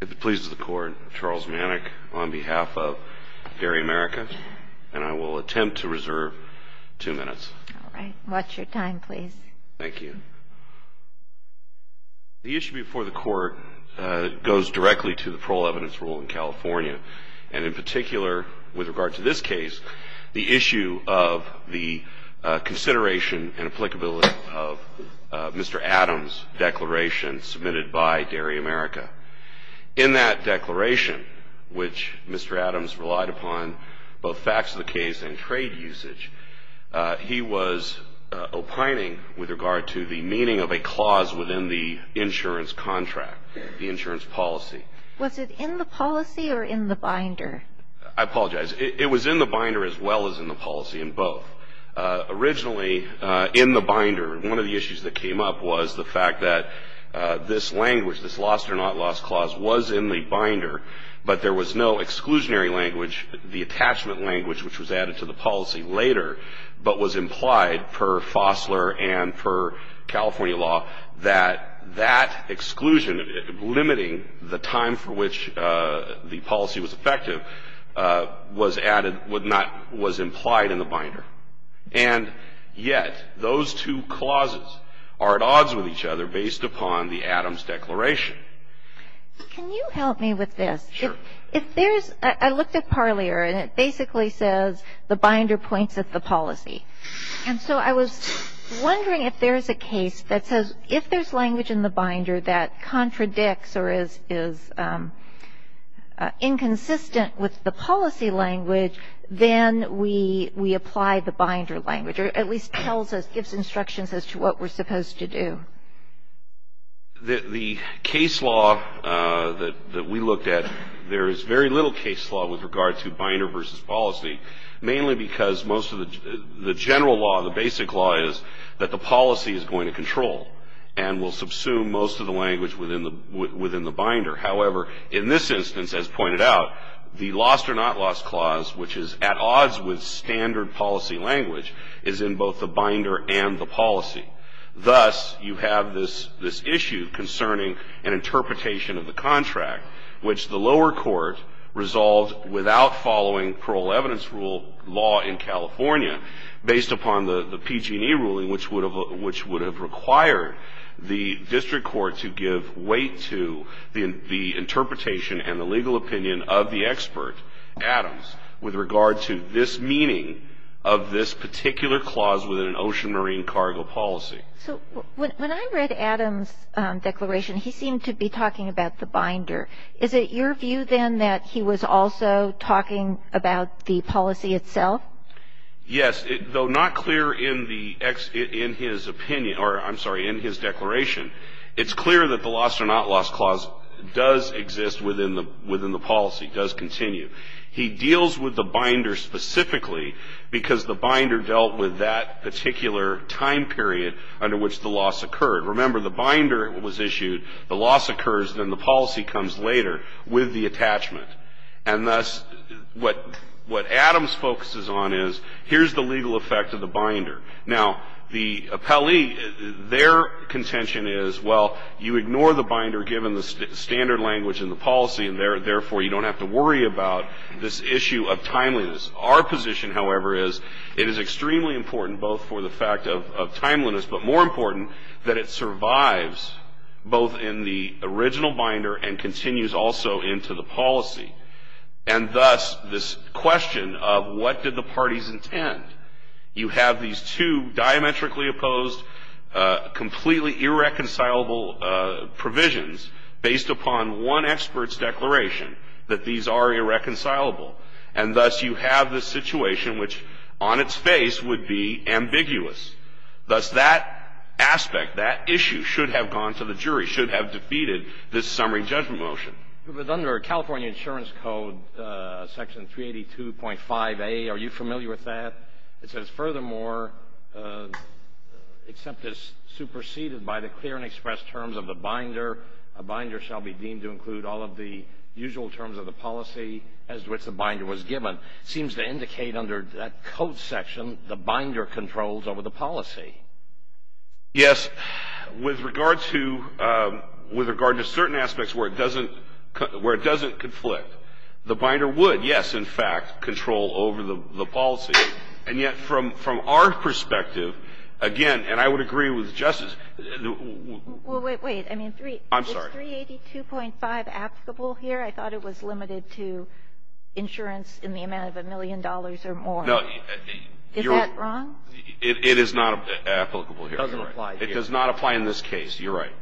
If it pleases the Court, Charles Manick on behalf of Dairy America, and I will attempt to reserve two minutes. All right. Watch your time, please. Thank you. The issue before the Court goes directly to the parole evidence rule in California, and in particular with regard to this case, the issue of the consideration and applicability of Mr. Adams' declaration submitted by Dairy America. In that declaration, which Mr. Adams relied upon both facts of the case and trade usage, he was opining with regard to the meaning of a clause within the insurance contract, the insurance policy. Was it in the policy or in the binder? I apologize. It was in the binder as well as in the policy in both. Originally, in the binder, one of the issues that came up was the fact that this language, this lost or not lost clause, was in the binder, but there was no exclusionary language, the attachment language which was added to the policy later, but was implied per Fossler and per California law that that exclusion, limiting the time for which the policy was effective, was added, would not, was implied in the binder. And yet, those two clauses are at odds with each other based upon the Adams' declaration. Can you help me with this? Sure. If there's, I looked at Parlier, and it basically says the binder points at the policy. And so I was wondering if there's a case that says if there's language in the binder that contradicts or is inconsistent with the policy language, then we apply the binder language, or at least tells us, gives instructions as to what we're supposed to do. The case law that we looked at, there is very little case law with regard to binder versus policy, mainly because most of the general law, the basic law, is that the policy is going to control and will subsume most of the language within the binder. However, in this instance, as pointed out, the lost or not lost clause, which is at odds with standard policy language, is in both the binder and the policy. Thus, you have this issue concerning an interpretation of the contract, which the lower court resolved without following parole evidence rule law in California, based upon the PG&E ruling, which would have required the district court to give weight to the interpretation and the legal opinion of the expert, Adams, with regard to this meaning of this particular clause within an ocean marine cargo policy. So when I read Adams' declaration, he seemed to be talking about the binder. Is it your view, then, that he was also talking about the policy itself? Yes. Though not clear in the ex — in his opinion, or I'm sorry, in his declaration, it's clear that the lost or not lost clause does exist within the policy, does continue. He deals with the binder specifically because the binder dealt with that particular time period under which the loss occurred. Remember, the binder was issued, the loss occurs, then the policy comes later with the attachment. And thus, what Adams focuses on is, here's the legal effect of the binder. Now, the appellee, their contention is, well, you ignore the binder given the standard language in the policy, and therefore you don't have to worry about this issue of timeliness. Our position, however, is it is extremely important both for the fact of timeliness, that it survives both in the original binder and continues also into the policy. And thus, this question of what did the parties intend, you have these two diametrically opposed, completely irreconcilable provisions based upon one expert's declaration that these are irreconcilable. And thus, you have this situation which, on its face, would be ambiguous. Thus, that aspect, that issue should have gone to the jury, should have defeated this summary judgment motion. But under California Insurance Code Section 382.5a, are you familiar with that? It says, furthermore, except as superseded by the clear and express terms of the binder, a binder shall be deemed to include all of the usual terms of the policy as to which the binder was given, seems to indicate under that code section the binder controls over the policy. Yes. With regard to certain aspects where it doesn't conflict, the binder would, yes, in fact, control over the policy. And yet, from our perspective, again, and I would agree with Justice — Well, wait, wait. I mean, is 382.5 applicable here? I thought it was limited to insurance in the amount of a million dollars or more. No. Is that wrong? It is not applicable here. It doesn't apply here. It does not apply in this case. You're right.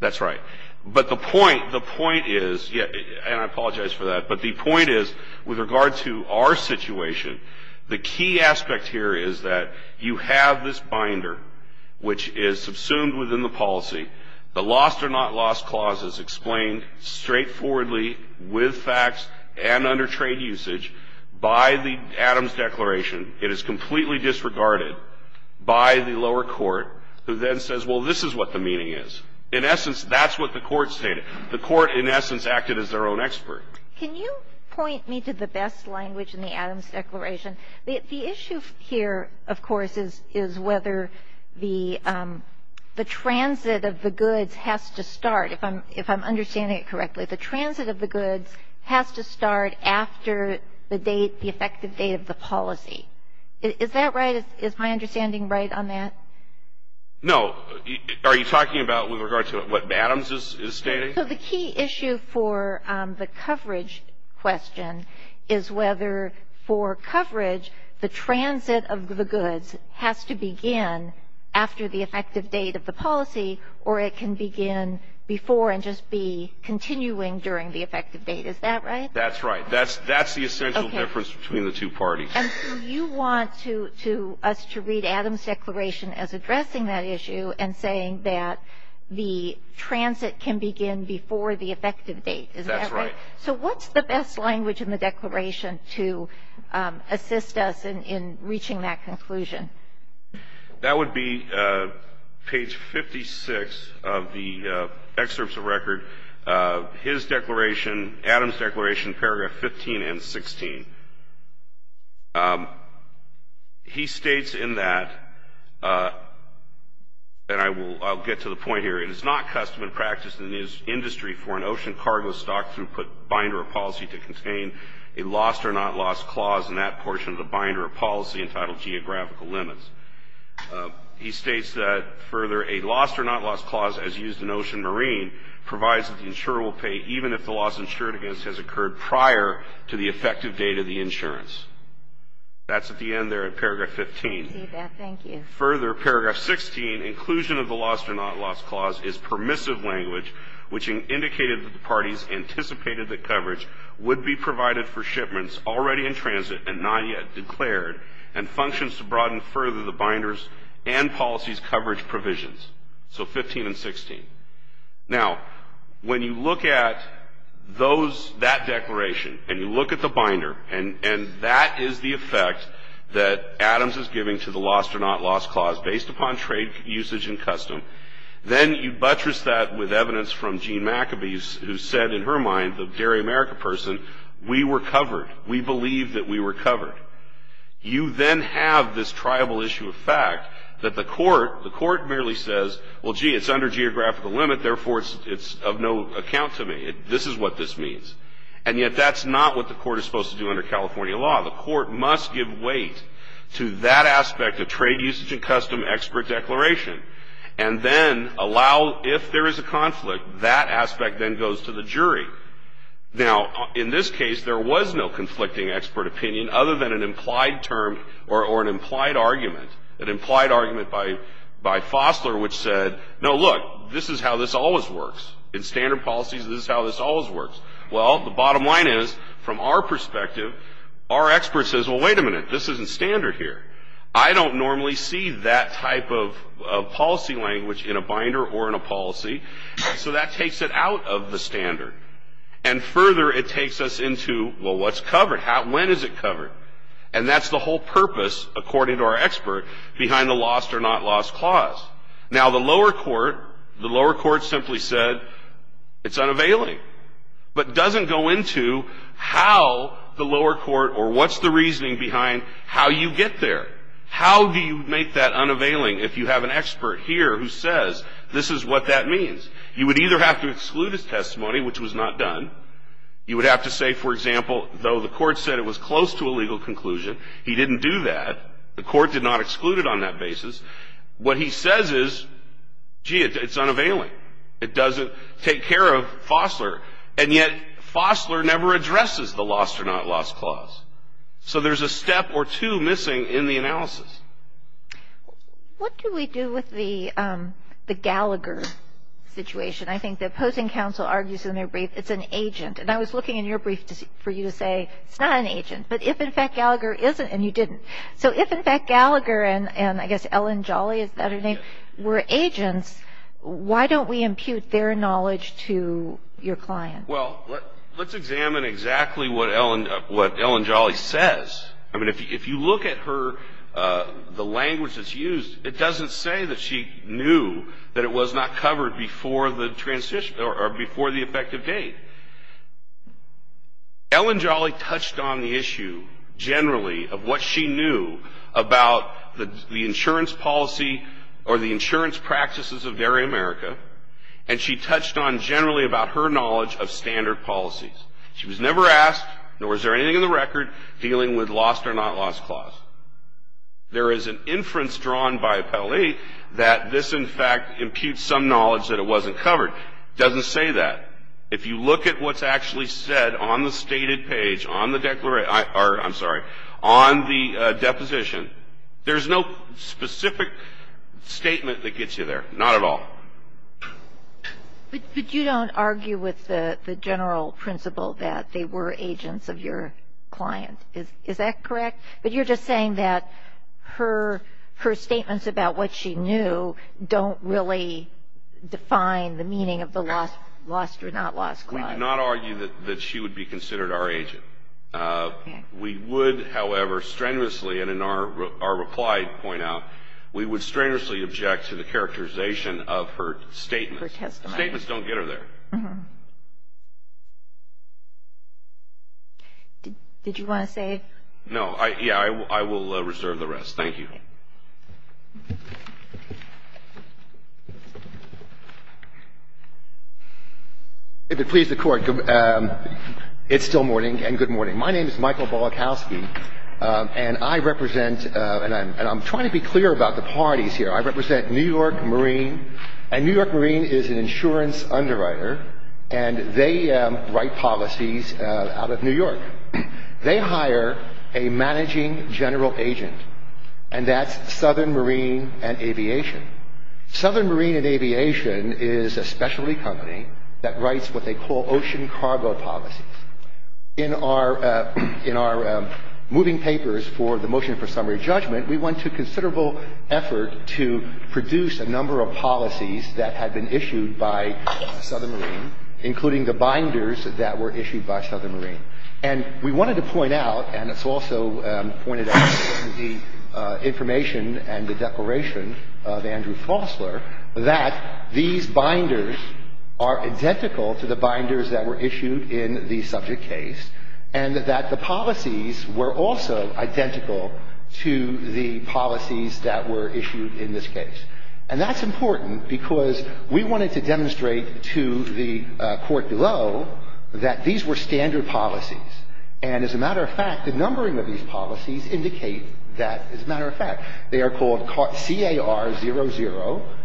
That's right. But the point, the point is, and I apologize for that, but the point is, with regard to our situation, the key aspect here is that you have this binder which is subsumed within the policy. The lost or not lost clause is explained straightforwardly with facts and under trade usage by the Adams Declaration. It is completely disregarded by the lower court, who then says, well, this is what the meaning is. In essence, that's what the court stated. The court, in essence, acted as their own expert. Can you point me to the best language in the Adams Declaration? The issue here, of course, is whether the transit of the goods has to start. If I'm understanding it correctly, the transit of the goods has to start after the date, the effective date of the policy. Is that right? Is my understanding right on that? No. Are you talking about with regard to what Adams is stating? So the key issue for the coverage question is whether, for coverage, the transit of the goods has to begin after the effective date of the policy, or it can begin before and just be continuing during the effective date. Is that right? That's right. That's the essential difference between the two parties. And so you want us to read Adams Declaration as addressing that issue and saying that the transit of the goods has to begin before the effective date. Is that right? That's right. So what's the best language in the Declaration to assist us in reaching that conclusion? That would be page 56 of the excerpts of record. His declaration, Adams Declaration, paragraph 15 and 16. He states in that, and I'll get to the point here, it is not custom and practice in the industry for an ocean cargo stock throughput binder of policy to contain a lost or not lost clause in that portion of the binder of policy entitled geographical limits. He states that, further, a lost or not lost clause, as used in Ocean Marine, provides that the insurer will pay even if the loss insured against has occurred prior to the effective date of the insurance. That's at the end there in paragraph 15. I see that. Thank you. Further, paragraph 16, inclusion of the lost or not lost clause is permissive language, which indicated that the parties anticipated that coverage would be provided for shipments already in transit and not yet declared and functions to broaden further the binders and policies coverage provisions. So 15 and 16. Now, when you look at those, that declaration, and you look at the binder, and that is the effect that Adams is giving to the lost or not lost clause based upon trade usage and custom, then you buttress that with evidence from Jean McAbee, who said in her mind, the Dairy America person, we were covered. We believe that we were covered. You then have this triable issue of fact that the court merely says, well, gee, it's under geographical limit, therefore it's of no account to me. This is what this means. And yet that's not what the court is supposed to do under California law. The court must give weight to that aspect of trade usage and custom expert declaration and then allow, if there is a conflict, that aspect then goes to the jury. Now, in this case, there was no conflicting expert opinion other than an implied term or an implied argument, an implied argument by Fossler, which said, no, look, this is how this always works. In standard policies, this is how this always works. Well, the bottom line is, from our perspective, our expert says, well, wait a minute, this isn't standard here. I don't normally see that type of policy language in a binder or in a policy, so that takes it out of the standard. And further, it takes us into, well, what's covered? When is it covered? And that's the whole purpose, according to our expert, behind the lost or not lost clause. Now, the lower court, the lower court simply said, it's unavailing, but doesn't go into how the lower court or what's the reasoning behind how you get there. How do you make that unavailing if you have an expert here who says, this is what that means? You would either have to exclude his testimony, which was not done. You would have to say, for example, though the court said it was close to a legal conclusion, he didn't do that. The court did not exclude it on that basis. What he says is, gee, it's unavailing. It doesn't take care of Fossler. And yet Fossler never addresses the lost or not lost clause. So there's a step or two missing in the analysis. What do we do with the Gallagher situation? I think the opposing counsel argues in their brief, it's an agent. And I was looking in your brief for you to say, it's not an agent. But if, in fact, Gallagher is an agent, and you didn't. So if, in fact, Gallagher and I guess Ellen Jolly, is that her name, were agents, why don't we impute their knowledge to your client? Well, let's examine exactly what Ellen Jolly says. I mean, if you look at her, the language that's used, it doesn't say that she knew that it was not covered before the transition or before the effective date. Ellen Jolly touched on the issue generally of what she knew about the insurance policy or the insurance practices of Dairy America. And she touched on generally about her knowledge of standard policies. She was never asked, nor is there anything in the record, dealing with lost or not lost clause. There is an inference drawn by Appellee that this, in fact, imputes some knowledge that it wasn't covered. It doesn't say that. If you look at what's actually said on the stated page, on the declaration or, I'm sorry, on the deposition, there's no specific statement that gets you there. Not at all. But you don't argue with the general principle that they were agents of your client. Is that correct? But you're just saying that her statements about what she knew don't really define the meaning of the lost or not lost clause. We do not argue that she would be considered our agent. We would, however, strenuously, and in our reply point out, we would strenuously object to the characterization of her statements. Her testimony. Statements don't get her there. Did you want to say? No. Yeah, I will reserve the rest. Thank you. If it pleases the Court, it's still morning, and good morning. My name is Michael Bollikowski, and I represent, and I'm trying to be clear about the parties here. I represent New York Marine, and New York Marine is an insurance underwriter, and they write policies out of New York. They hire a managing general agent, and that's Southern Marine and Aviation. Southern Marine and Aviation is a specialty company that writes what they call ocean cargo policies. In our moving papers for the motion for summary judgment, we went to considerable effort to produce a number of policies that had been issued by Southern Marine, including the binders that were issued by Southern Marine. And we wanted to point out, and it's also pointed out in the information and the declaration of Andrew Fosler, that these binders are identical to the binders that were issued in the subject case, and that the policies were also identical to the policies that were issued in this case. And that's important because we wanted to demonstrate to the Court below that these were standard policies. And as a matter of fact, the numbering of these policies indicate that, as a matter of fact, they are called CAR00,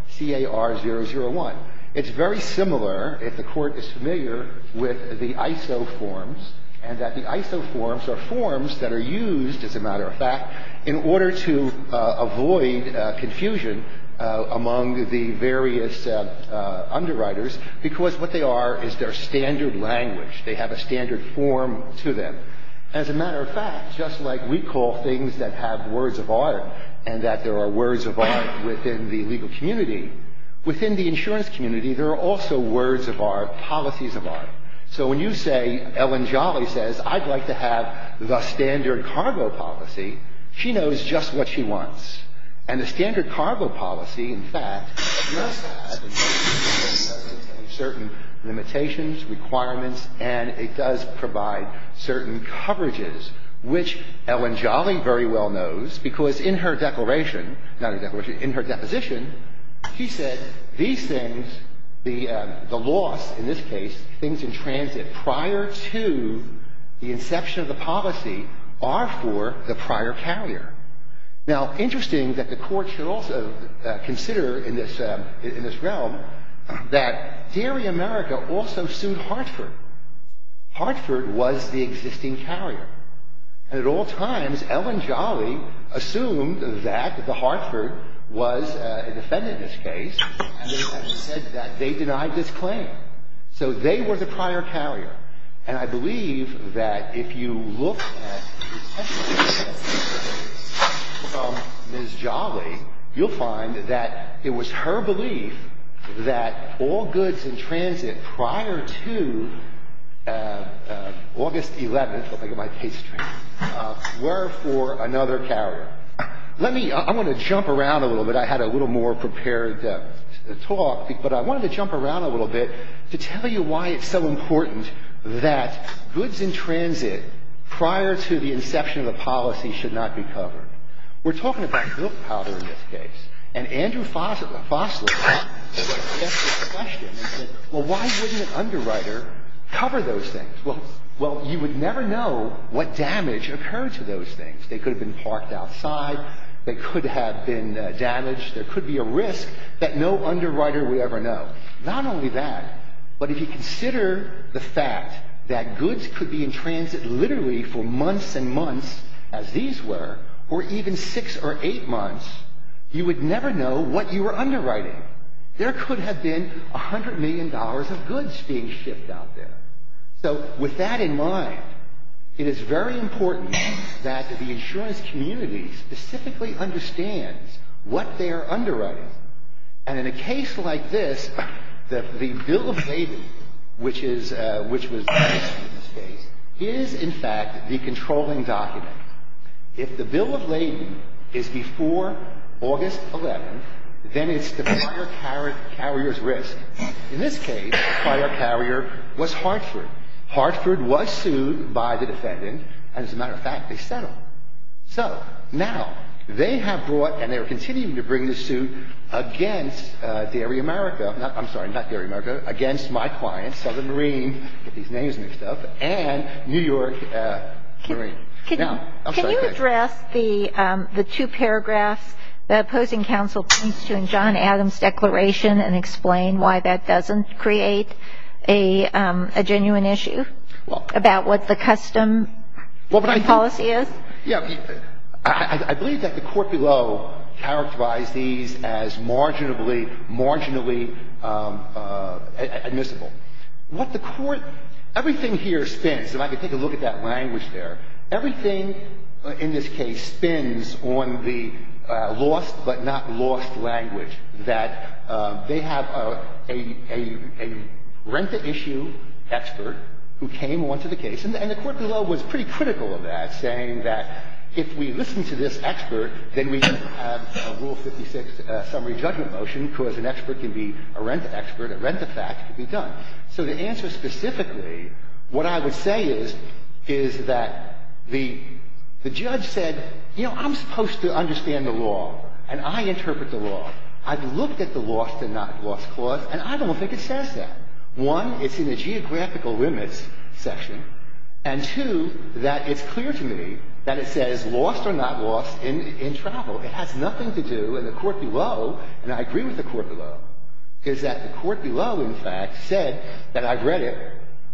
CAR001. It's very similar, if the Court is familiar, with the ISO forms, and that the ISO forms are forms that are used, as a matter of fact, in order to avoid confusion among the various underwriters, because what they are is their standard language. They have a standard form to them. As a matter of fact, just like we call things that have words of art and that there are words of art within the legal community, within the insurance community, there are also words of art, policies of art. So when you say, Ellen Jolly says, I'd like to have the standard cargo policy, she knows just what she wants. And the standard cargo policy, in fact, must have certain limitations, requirements, and it does provide certain coverages, which Ellen Jolly very well knows, because in her declaration, not in her declaration, in her deposition, she said these things, the loss, in this case, things in transit prior to the inception of the policy are for the prior carrier. Now, interesting that the Court should also consider in this realm that Dairy America also sued Hartford. Hartford was the existing carrier. And at all times, Ellen Jolly assumed that the Hartford was a defendant in this case, and they said that they denied this claim. So they were the prior carrier. And I believe that if you look at Ms. Jolly, you'll find that it was her belief that all goods in transit prior to August 11th, I think in my case, were for another carrier. Let me – I'm going to jump around a little bit. I had a little more prepared talk, but I wanted to jump around a little bit to tell you why it's so important that goods in transit prior to the inception of the policy should not be covered. We're talking about milk powder in this case. And Andrew Fossler asked this question and said, well, why wouldn't an underwriter cover those things? Well, you would never know what damage occurred to those things. They could have been parked outside. They could have been damaged. There could be a risk that no underwriter would ever know. Not only that, but if you consider the fact that goods could be in transit literally for months and months, as these were, or even six or eight months, you would never know what you were underwriting. There could have been $100 million of goods being shipped out there. So with that in mind, it is very important that the insurance community specifically understands what they are underwriting. And in a case like this, the bill of lading, which is — which was published in this case, is, in fact, the controlling document. If the bill of lading is before August 11th, then it's the prior carrier's risk. In this case, the prior carrier was Hartford. Hartford was sued by the defendant, and as a matter of fact, they settled. So now they have brought, and they are continuing to bring this suit against Dairy America — I'm sorry, not Dairy America, against my clients, Southern Marine — get these names mixed up — and New York Marine. Now — Can you address the two paragraphs the opposing counsel points to in John Adams' declaration and explain why that doesn't create a genuine issue about what the custom policy is? Yeah. I believe that the court below characterized these as marginally, marginally admissible. What the court — everything here spins, and I can take a look at that language there. Everything in this case spins on the lost but not lost language, that they have a rent-to-issue expert who came onto the case, and the court below was pretty critical of that, saying that if we listen to this expert, then we can have a Rule 56 summary judgment motion because an expert can be a rent-to-expert, a rent-to-fact can be done. So the answer specifically, what I would say is, is that the judge said, you know, I'm supposed to understand the law, and I interpret the law. I've looked at the lost and not lost clause, and I don't think it says that. One, it's in the geographical limits section. And two, that it's clear to me that it says lost or not lost in travel. It has nothing to do — and the court below, and I agree with the court below, is that the court below, in fact, said that I've read it,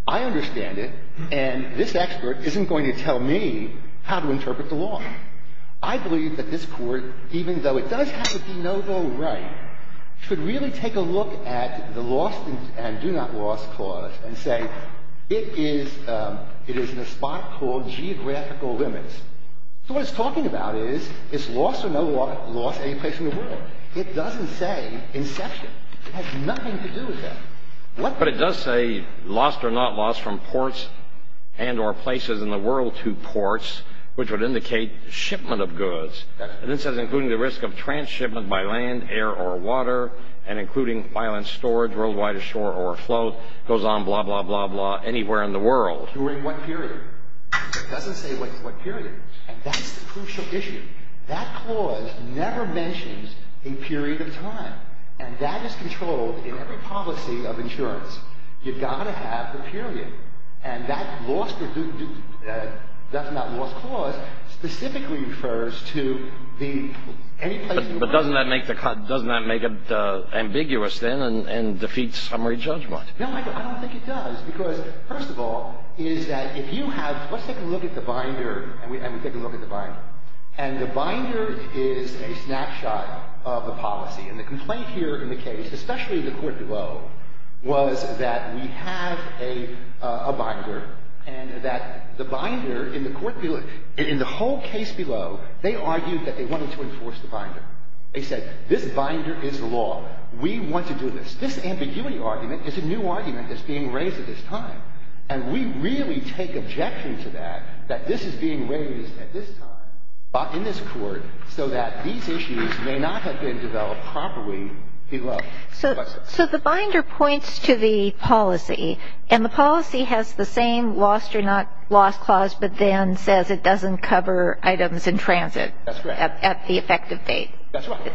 I understand it, and this expert isn't going to tell me how to interpret the law. I believe that this Court, even though it does have a de novo right, should really take a look at the lost and do not lost clause and say, it is in a spot called geographical limits. So what it's talking about is, is lost or not lost anyplace in the world. It doesn't say inception. It has nothing to do with that. What — But it does say lost or not lost from ports and or places in the world to ports, which would indicate shipment of goods. And it says including the risk of trans-shipment by land, air, or water, and including violent storage worldwide ashore or afloat. It goes on blah, blah, blah, blah anywhere in the world. During what period? It doesn't say what period. And that's the crucial issue. That clause never mentions a period of time. And that is controlled in every policy of insurance. You've got to have the period. And that lost or do not lost clause specifically refers to the — But doesn't that make it ambiguous then and defeat summary judgment? No, Michael, I don't think it does. Because, first of all, is that if you have — let's take a look at the binder. And we take a look at the binder. And the binder is a snapshot of the policy. And the complaint here in the case, especially in the court below, was that we have a binder. And that the binder in the court below — in the whole case below, they argued that they wanted to enforce the binder. They said this binder is the law. We want to do this. This ambiguity argument is a new argument that's being raised at this time. And we really take objection to that, that this is being raised at this time in this court so that these issues may not have been developed properly below. So the binder points to the policy. And the policy has the same lost or not lost clause, but then says it doesn't cover items in transit at the effective date. That's right.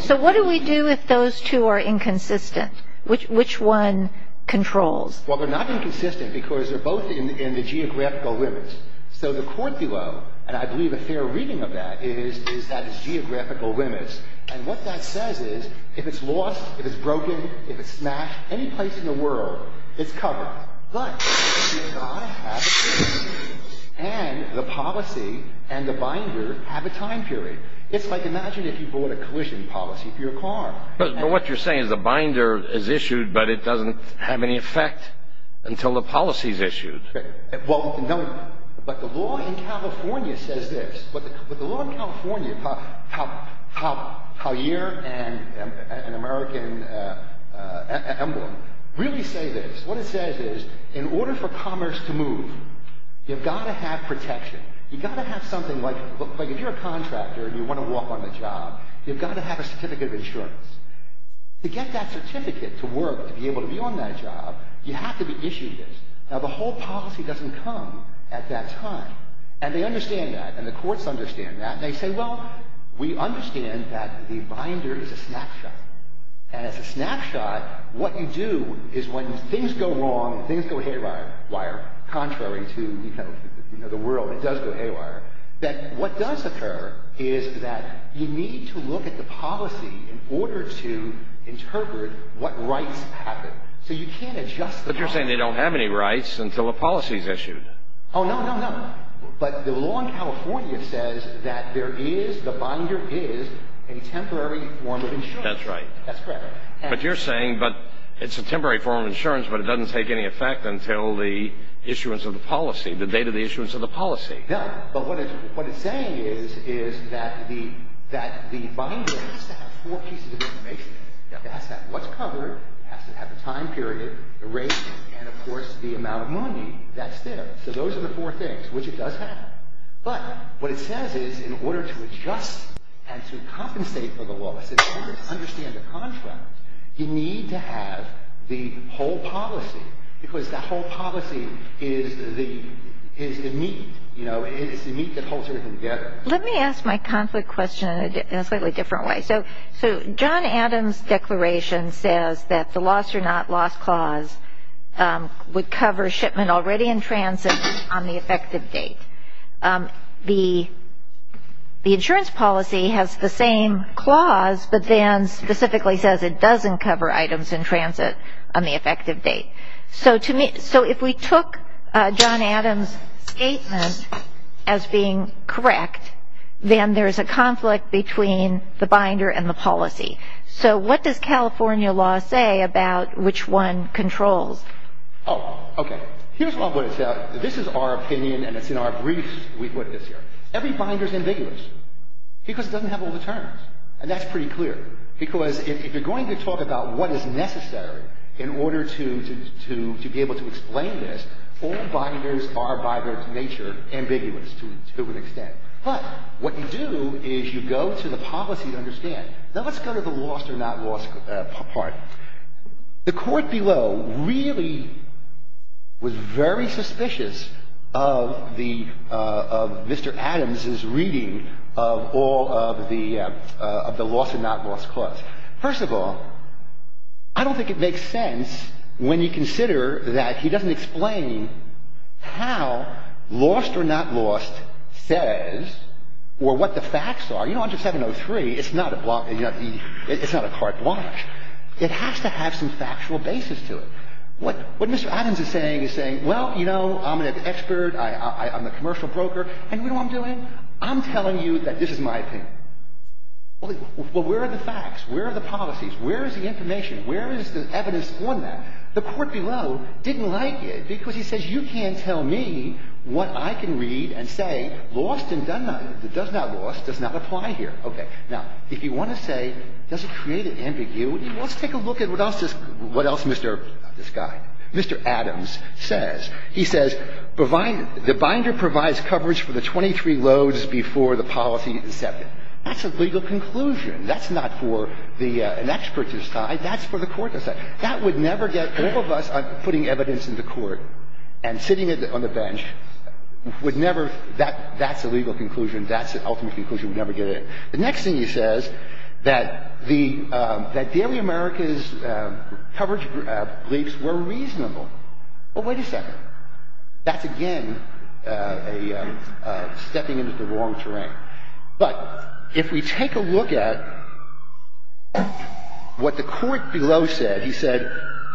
So what do we do if those two are inconsistent? Which one controls? Well, they're not inconsistent because they're both in the geographical limits. So the court below, and I believe a fair reading of that, is that it's geographical limits. And what that says is if it's lost, if it's broken, if it's smashed, any place in the world, it's covered. But the binder and I have a time period. And the policy and the binder have a time period. It's like imagine if you bought a collision policy for your car. But what you're saying is the binder is issued, but it doesn't have any effect until the policy is issued. Right. But the law in California says this. But the law in California, how here an American emblem, really say this. What it says is in order for commerce to move, you've got to have protection. You've got to have something like if you're a contractor and you want to walk on the job, you've got to have a certificate of insurance. To get that certificate to work, to be able to be on that job, you have to be issued this. Now, the whole policy doesn't come at that time. And they understand that. And the courts understand that. And they say, well, we understand that the binder is a snapshot. And as a snapshot, what you do is when things go wrong, things go haywire, contrary to the world, it does go haywire, that what does occur is that you need to look at the policy in order to interpret what rights happen. So you can't adjust the policy. But you're saying they don't have any rights until a policy is issued. Oh, no, no, no. But the law in California says that there is, the binder is, a temporary form of insurance. That's right. That's correct. But you're saying it's a temporary form of insurance but it doesn't take any effect until the issuance of the policy, the date of the issuance of the policy. No. But what it's saying is that the binder has to have four pieces of information. It has to have what's covered, it has to have the time period, the rate, and, of course, the amount of money that's there. So those are the four things, which it does have. But what it says is in order to adjust and to compensate for the loss, in order to understand the contract, you need to have the whole policy because that whole policy is the meat, you know, it's the meat that holds everything together. Let me ask my conflict question in a slightly different way. So John Adams' declaration says that the loss or not loss clause would cover shipment already in transit on the effective date. The insurance policy has the same clause but then specifically says it doesn't cover items in transit on the effective date. So if we took John Adams' statement as being correct, then there's a conflict between the binder and the policy. So what does California law say about which one controls? Oh, okay. Here's what I'm going to tell you. This is our opinion and it's in our briefs we put this here. Every binder is ambiguous because it doesn't have all the terms and that's pretty clear because if you're going to talk about what is necessary in order to be able to explain this, all binders are by their nature ambiguous to an extent. But what you do is you go to the policy to understand. Now, let's go to the loss or not loss part. The court below really was very suspicious of the Mr. Adams' reading of all of the loss or not loss clause. First of all, I don't think it makes sense when you consider that he doesn't explain how lost or not lost says or what the facts are. You know, under 703, it's not a carte blanche. It has to have some factual basis to it. What Mr. Adams is saying is saying, well, you know, I'm an expert, I'm a commercial broker, and you know what I'm doing? I'm telling you that this is my opinion. Well, where are the facts? Where are the policies? Where is the information? Where is the evidence on that? Now, the court below didn't like it because he says you can't tell me what I can read and say lost and does not loss does not apply here. Okay. Now, if you want to say does it create an ambiguity, well, let's take a look at what else this guy, Mr. Adams, says. He says the binder provides coverage for the 23 loads before the policy is accepted. That's a legal conclusion. That's not for an expert to decide. That's for the court to decide. That would never get – all of us putting evidence in the court and sitting on the bench would never – that's a legal conclusion. That's an ultimate conclusion. We'd never get it. The next thing he says, that the Daily America's coverage briefs were reasonable. Well, wait a second. That's, again, a stepping into the wrong terrain. But if we take a look at what the court below said, he said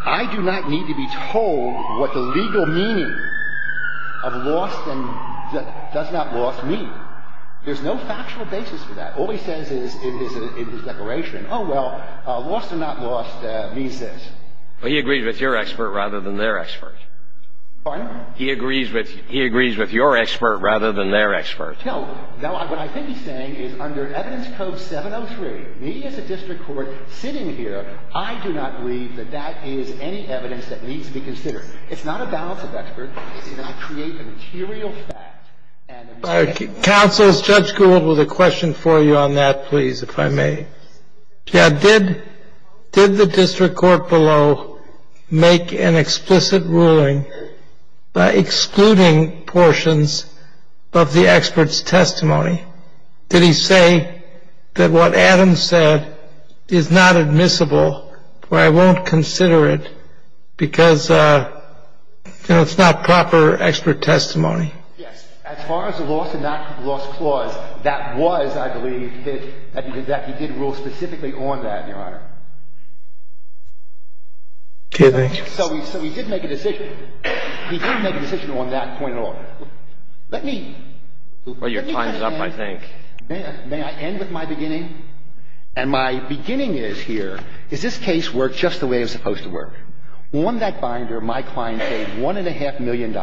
I do not need to be told what the legal meaning of lost and does not loss means. There's no factual basis for that. All he says is in his declaration, oh, well, lost and not lost means this. Well, he agrees with your expert rather than their expert. Pardon? He agrees with your expert rather than their expert. No. What I think he's saying is under Evidence Code 703, me as a district court sitting here, I do not believe that that is any evidence that needs to be considered. It's not a balance of expert. It's going to create a material fact. Counsel, Judge Gould with a question for you on that, please, if I may. Did the district court below make an explicit ruling by excluding portions of the expert's testimony? Did he say that what Adam said is not admissible or I won't consider it because it's not proper expert testimony? Yes. As far as the lost and not lost clause, that was, I believe, that he did rule specifically on that, Your Honor. So he did make a decision. He didn't make a decision on that point at all. Let me. Well, your time is up, I think. May I end with my beginning? And my beginning is here. Does this case work just the way it's supposed to work? On that binder, my client paid $1.5 million,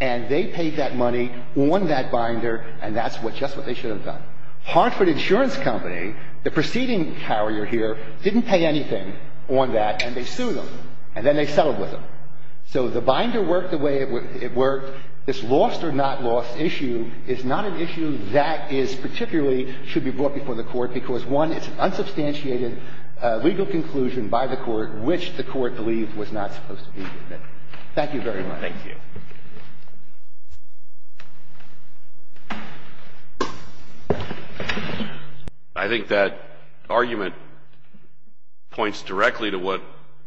and they paid that money on that binder, and that's just what they should have done. Hartford Insurance Company, the preceding carrier here, didn't pay anything on that, and they sued them, and then they settled with them. So the binder worked the way it worked. This lost or not lost issue is not an issue that is particularly should be brought before the court because, one, it's an unsubstantiated legal conclusion by the court which the court believed was not supposed to be admitted. Thank you very much. Thank you. I think that argument points directly to what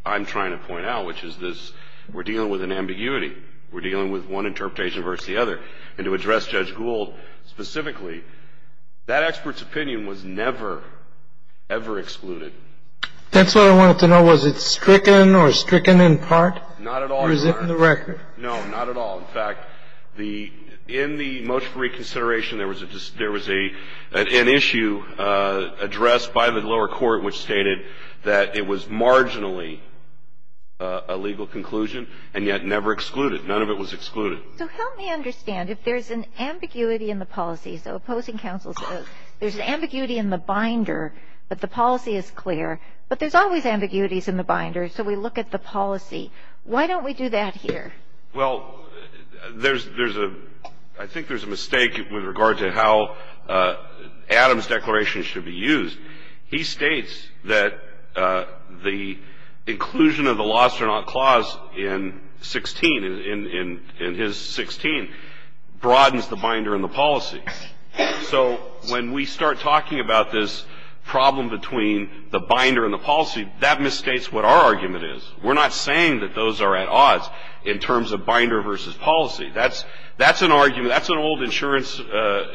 I'm trying to point out, which is this we're dealing with an ambiguity. We're dealing with one interpretation versus the other. the issue to the federal court and to address Judge Gould specifically. That expert's opinion was never, ever excluded. That's what I wanted to know. Was it stricken or stricken in part or is it in the record? Not at all, Your Honor. No, not at all. If there's an ambiguity in the policy, so opposing counsel says, there's an ambiguity in the binder, but the policy is clear. But there's always ambiguities in the binder, so we look at the policy. Why don't we do that here? Well, I think there's a mistake with regard to how Adams' declaration should be used. He states that the inclusion of the loss or not clause in 16, in his 16, broadens the binder and the policy. So when we start talking about this problem between the binder and the policy, that misstates what our argument is. We're not saying that those are at odds in terms of binder versus policy. That's an argument, that's an old insurance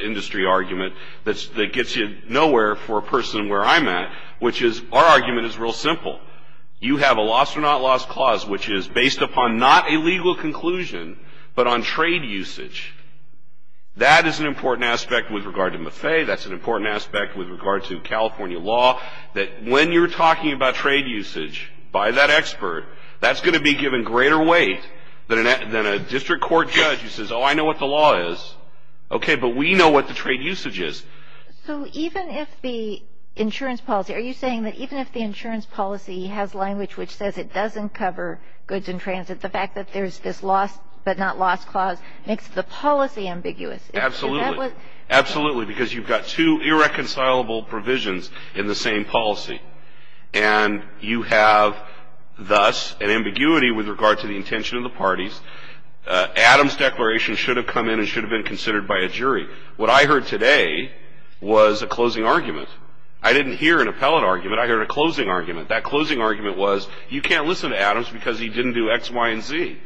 industry argument that gets you nowhere for a person where I'm at, which is our argument is real simple. You have a loss or not loss clause, which is based upon not a legal conclusion, but on trade usage. That is an important aspect with regard to Maffei. That's an important aspect with regard to California law, that when you're talking about trade usage by that expert, that's going to be given greater weight than a district court judge who says, oh, I know what the law is, okay, but we know what the trade usage is. So even if the insurance policy, are you saying that even if the insurance policy has language which says it doesn't cover goods and transit, the fact that there's this loss but not loss clause makes the policy ambiguous? Absolutely. Absolutely, because you've got two irreconcilable provisions in the same policy. And you have thus an ambiguity with regard to the intention of the parties. Adams' declaration should have come in and should have been considered by a jury. What I heard today was a closing argument. I didn't hear an appellate argument. I heard a closing argument. That closing argument was you can't listen to Adams because he didn't do X, Y, and Z.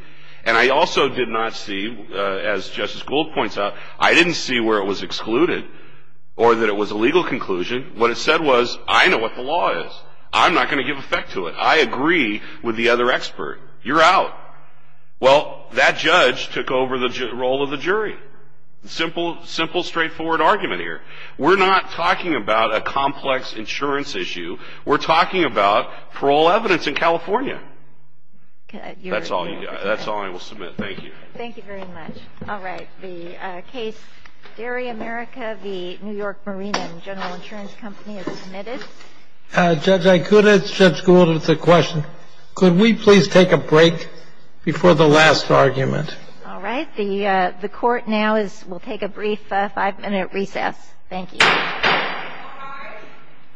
And I also did not see, as Justice Gould points out, I didn't see where it was excluded or that it was a legal conclusion. What it said was I know what the law is. I'm not going to give effect to it. I agree with the other expert. You're out. Well, that judge took over the role of the jury. Simple, straightforward argument here. We're not talking about a complex insurance issue. We're talking about parole evidence in California. That's all I will submit. Thank you. Thank you very much. All right. The case Dairy America v. New York Marina and General Insurance Company is submitted. Judge, I could ask Judge Gould a question. Could we please take a break before the last argument? All right. The Court now will take a brief five-minute recess. Thank you. All rise.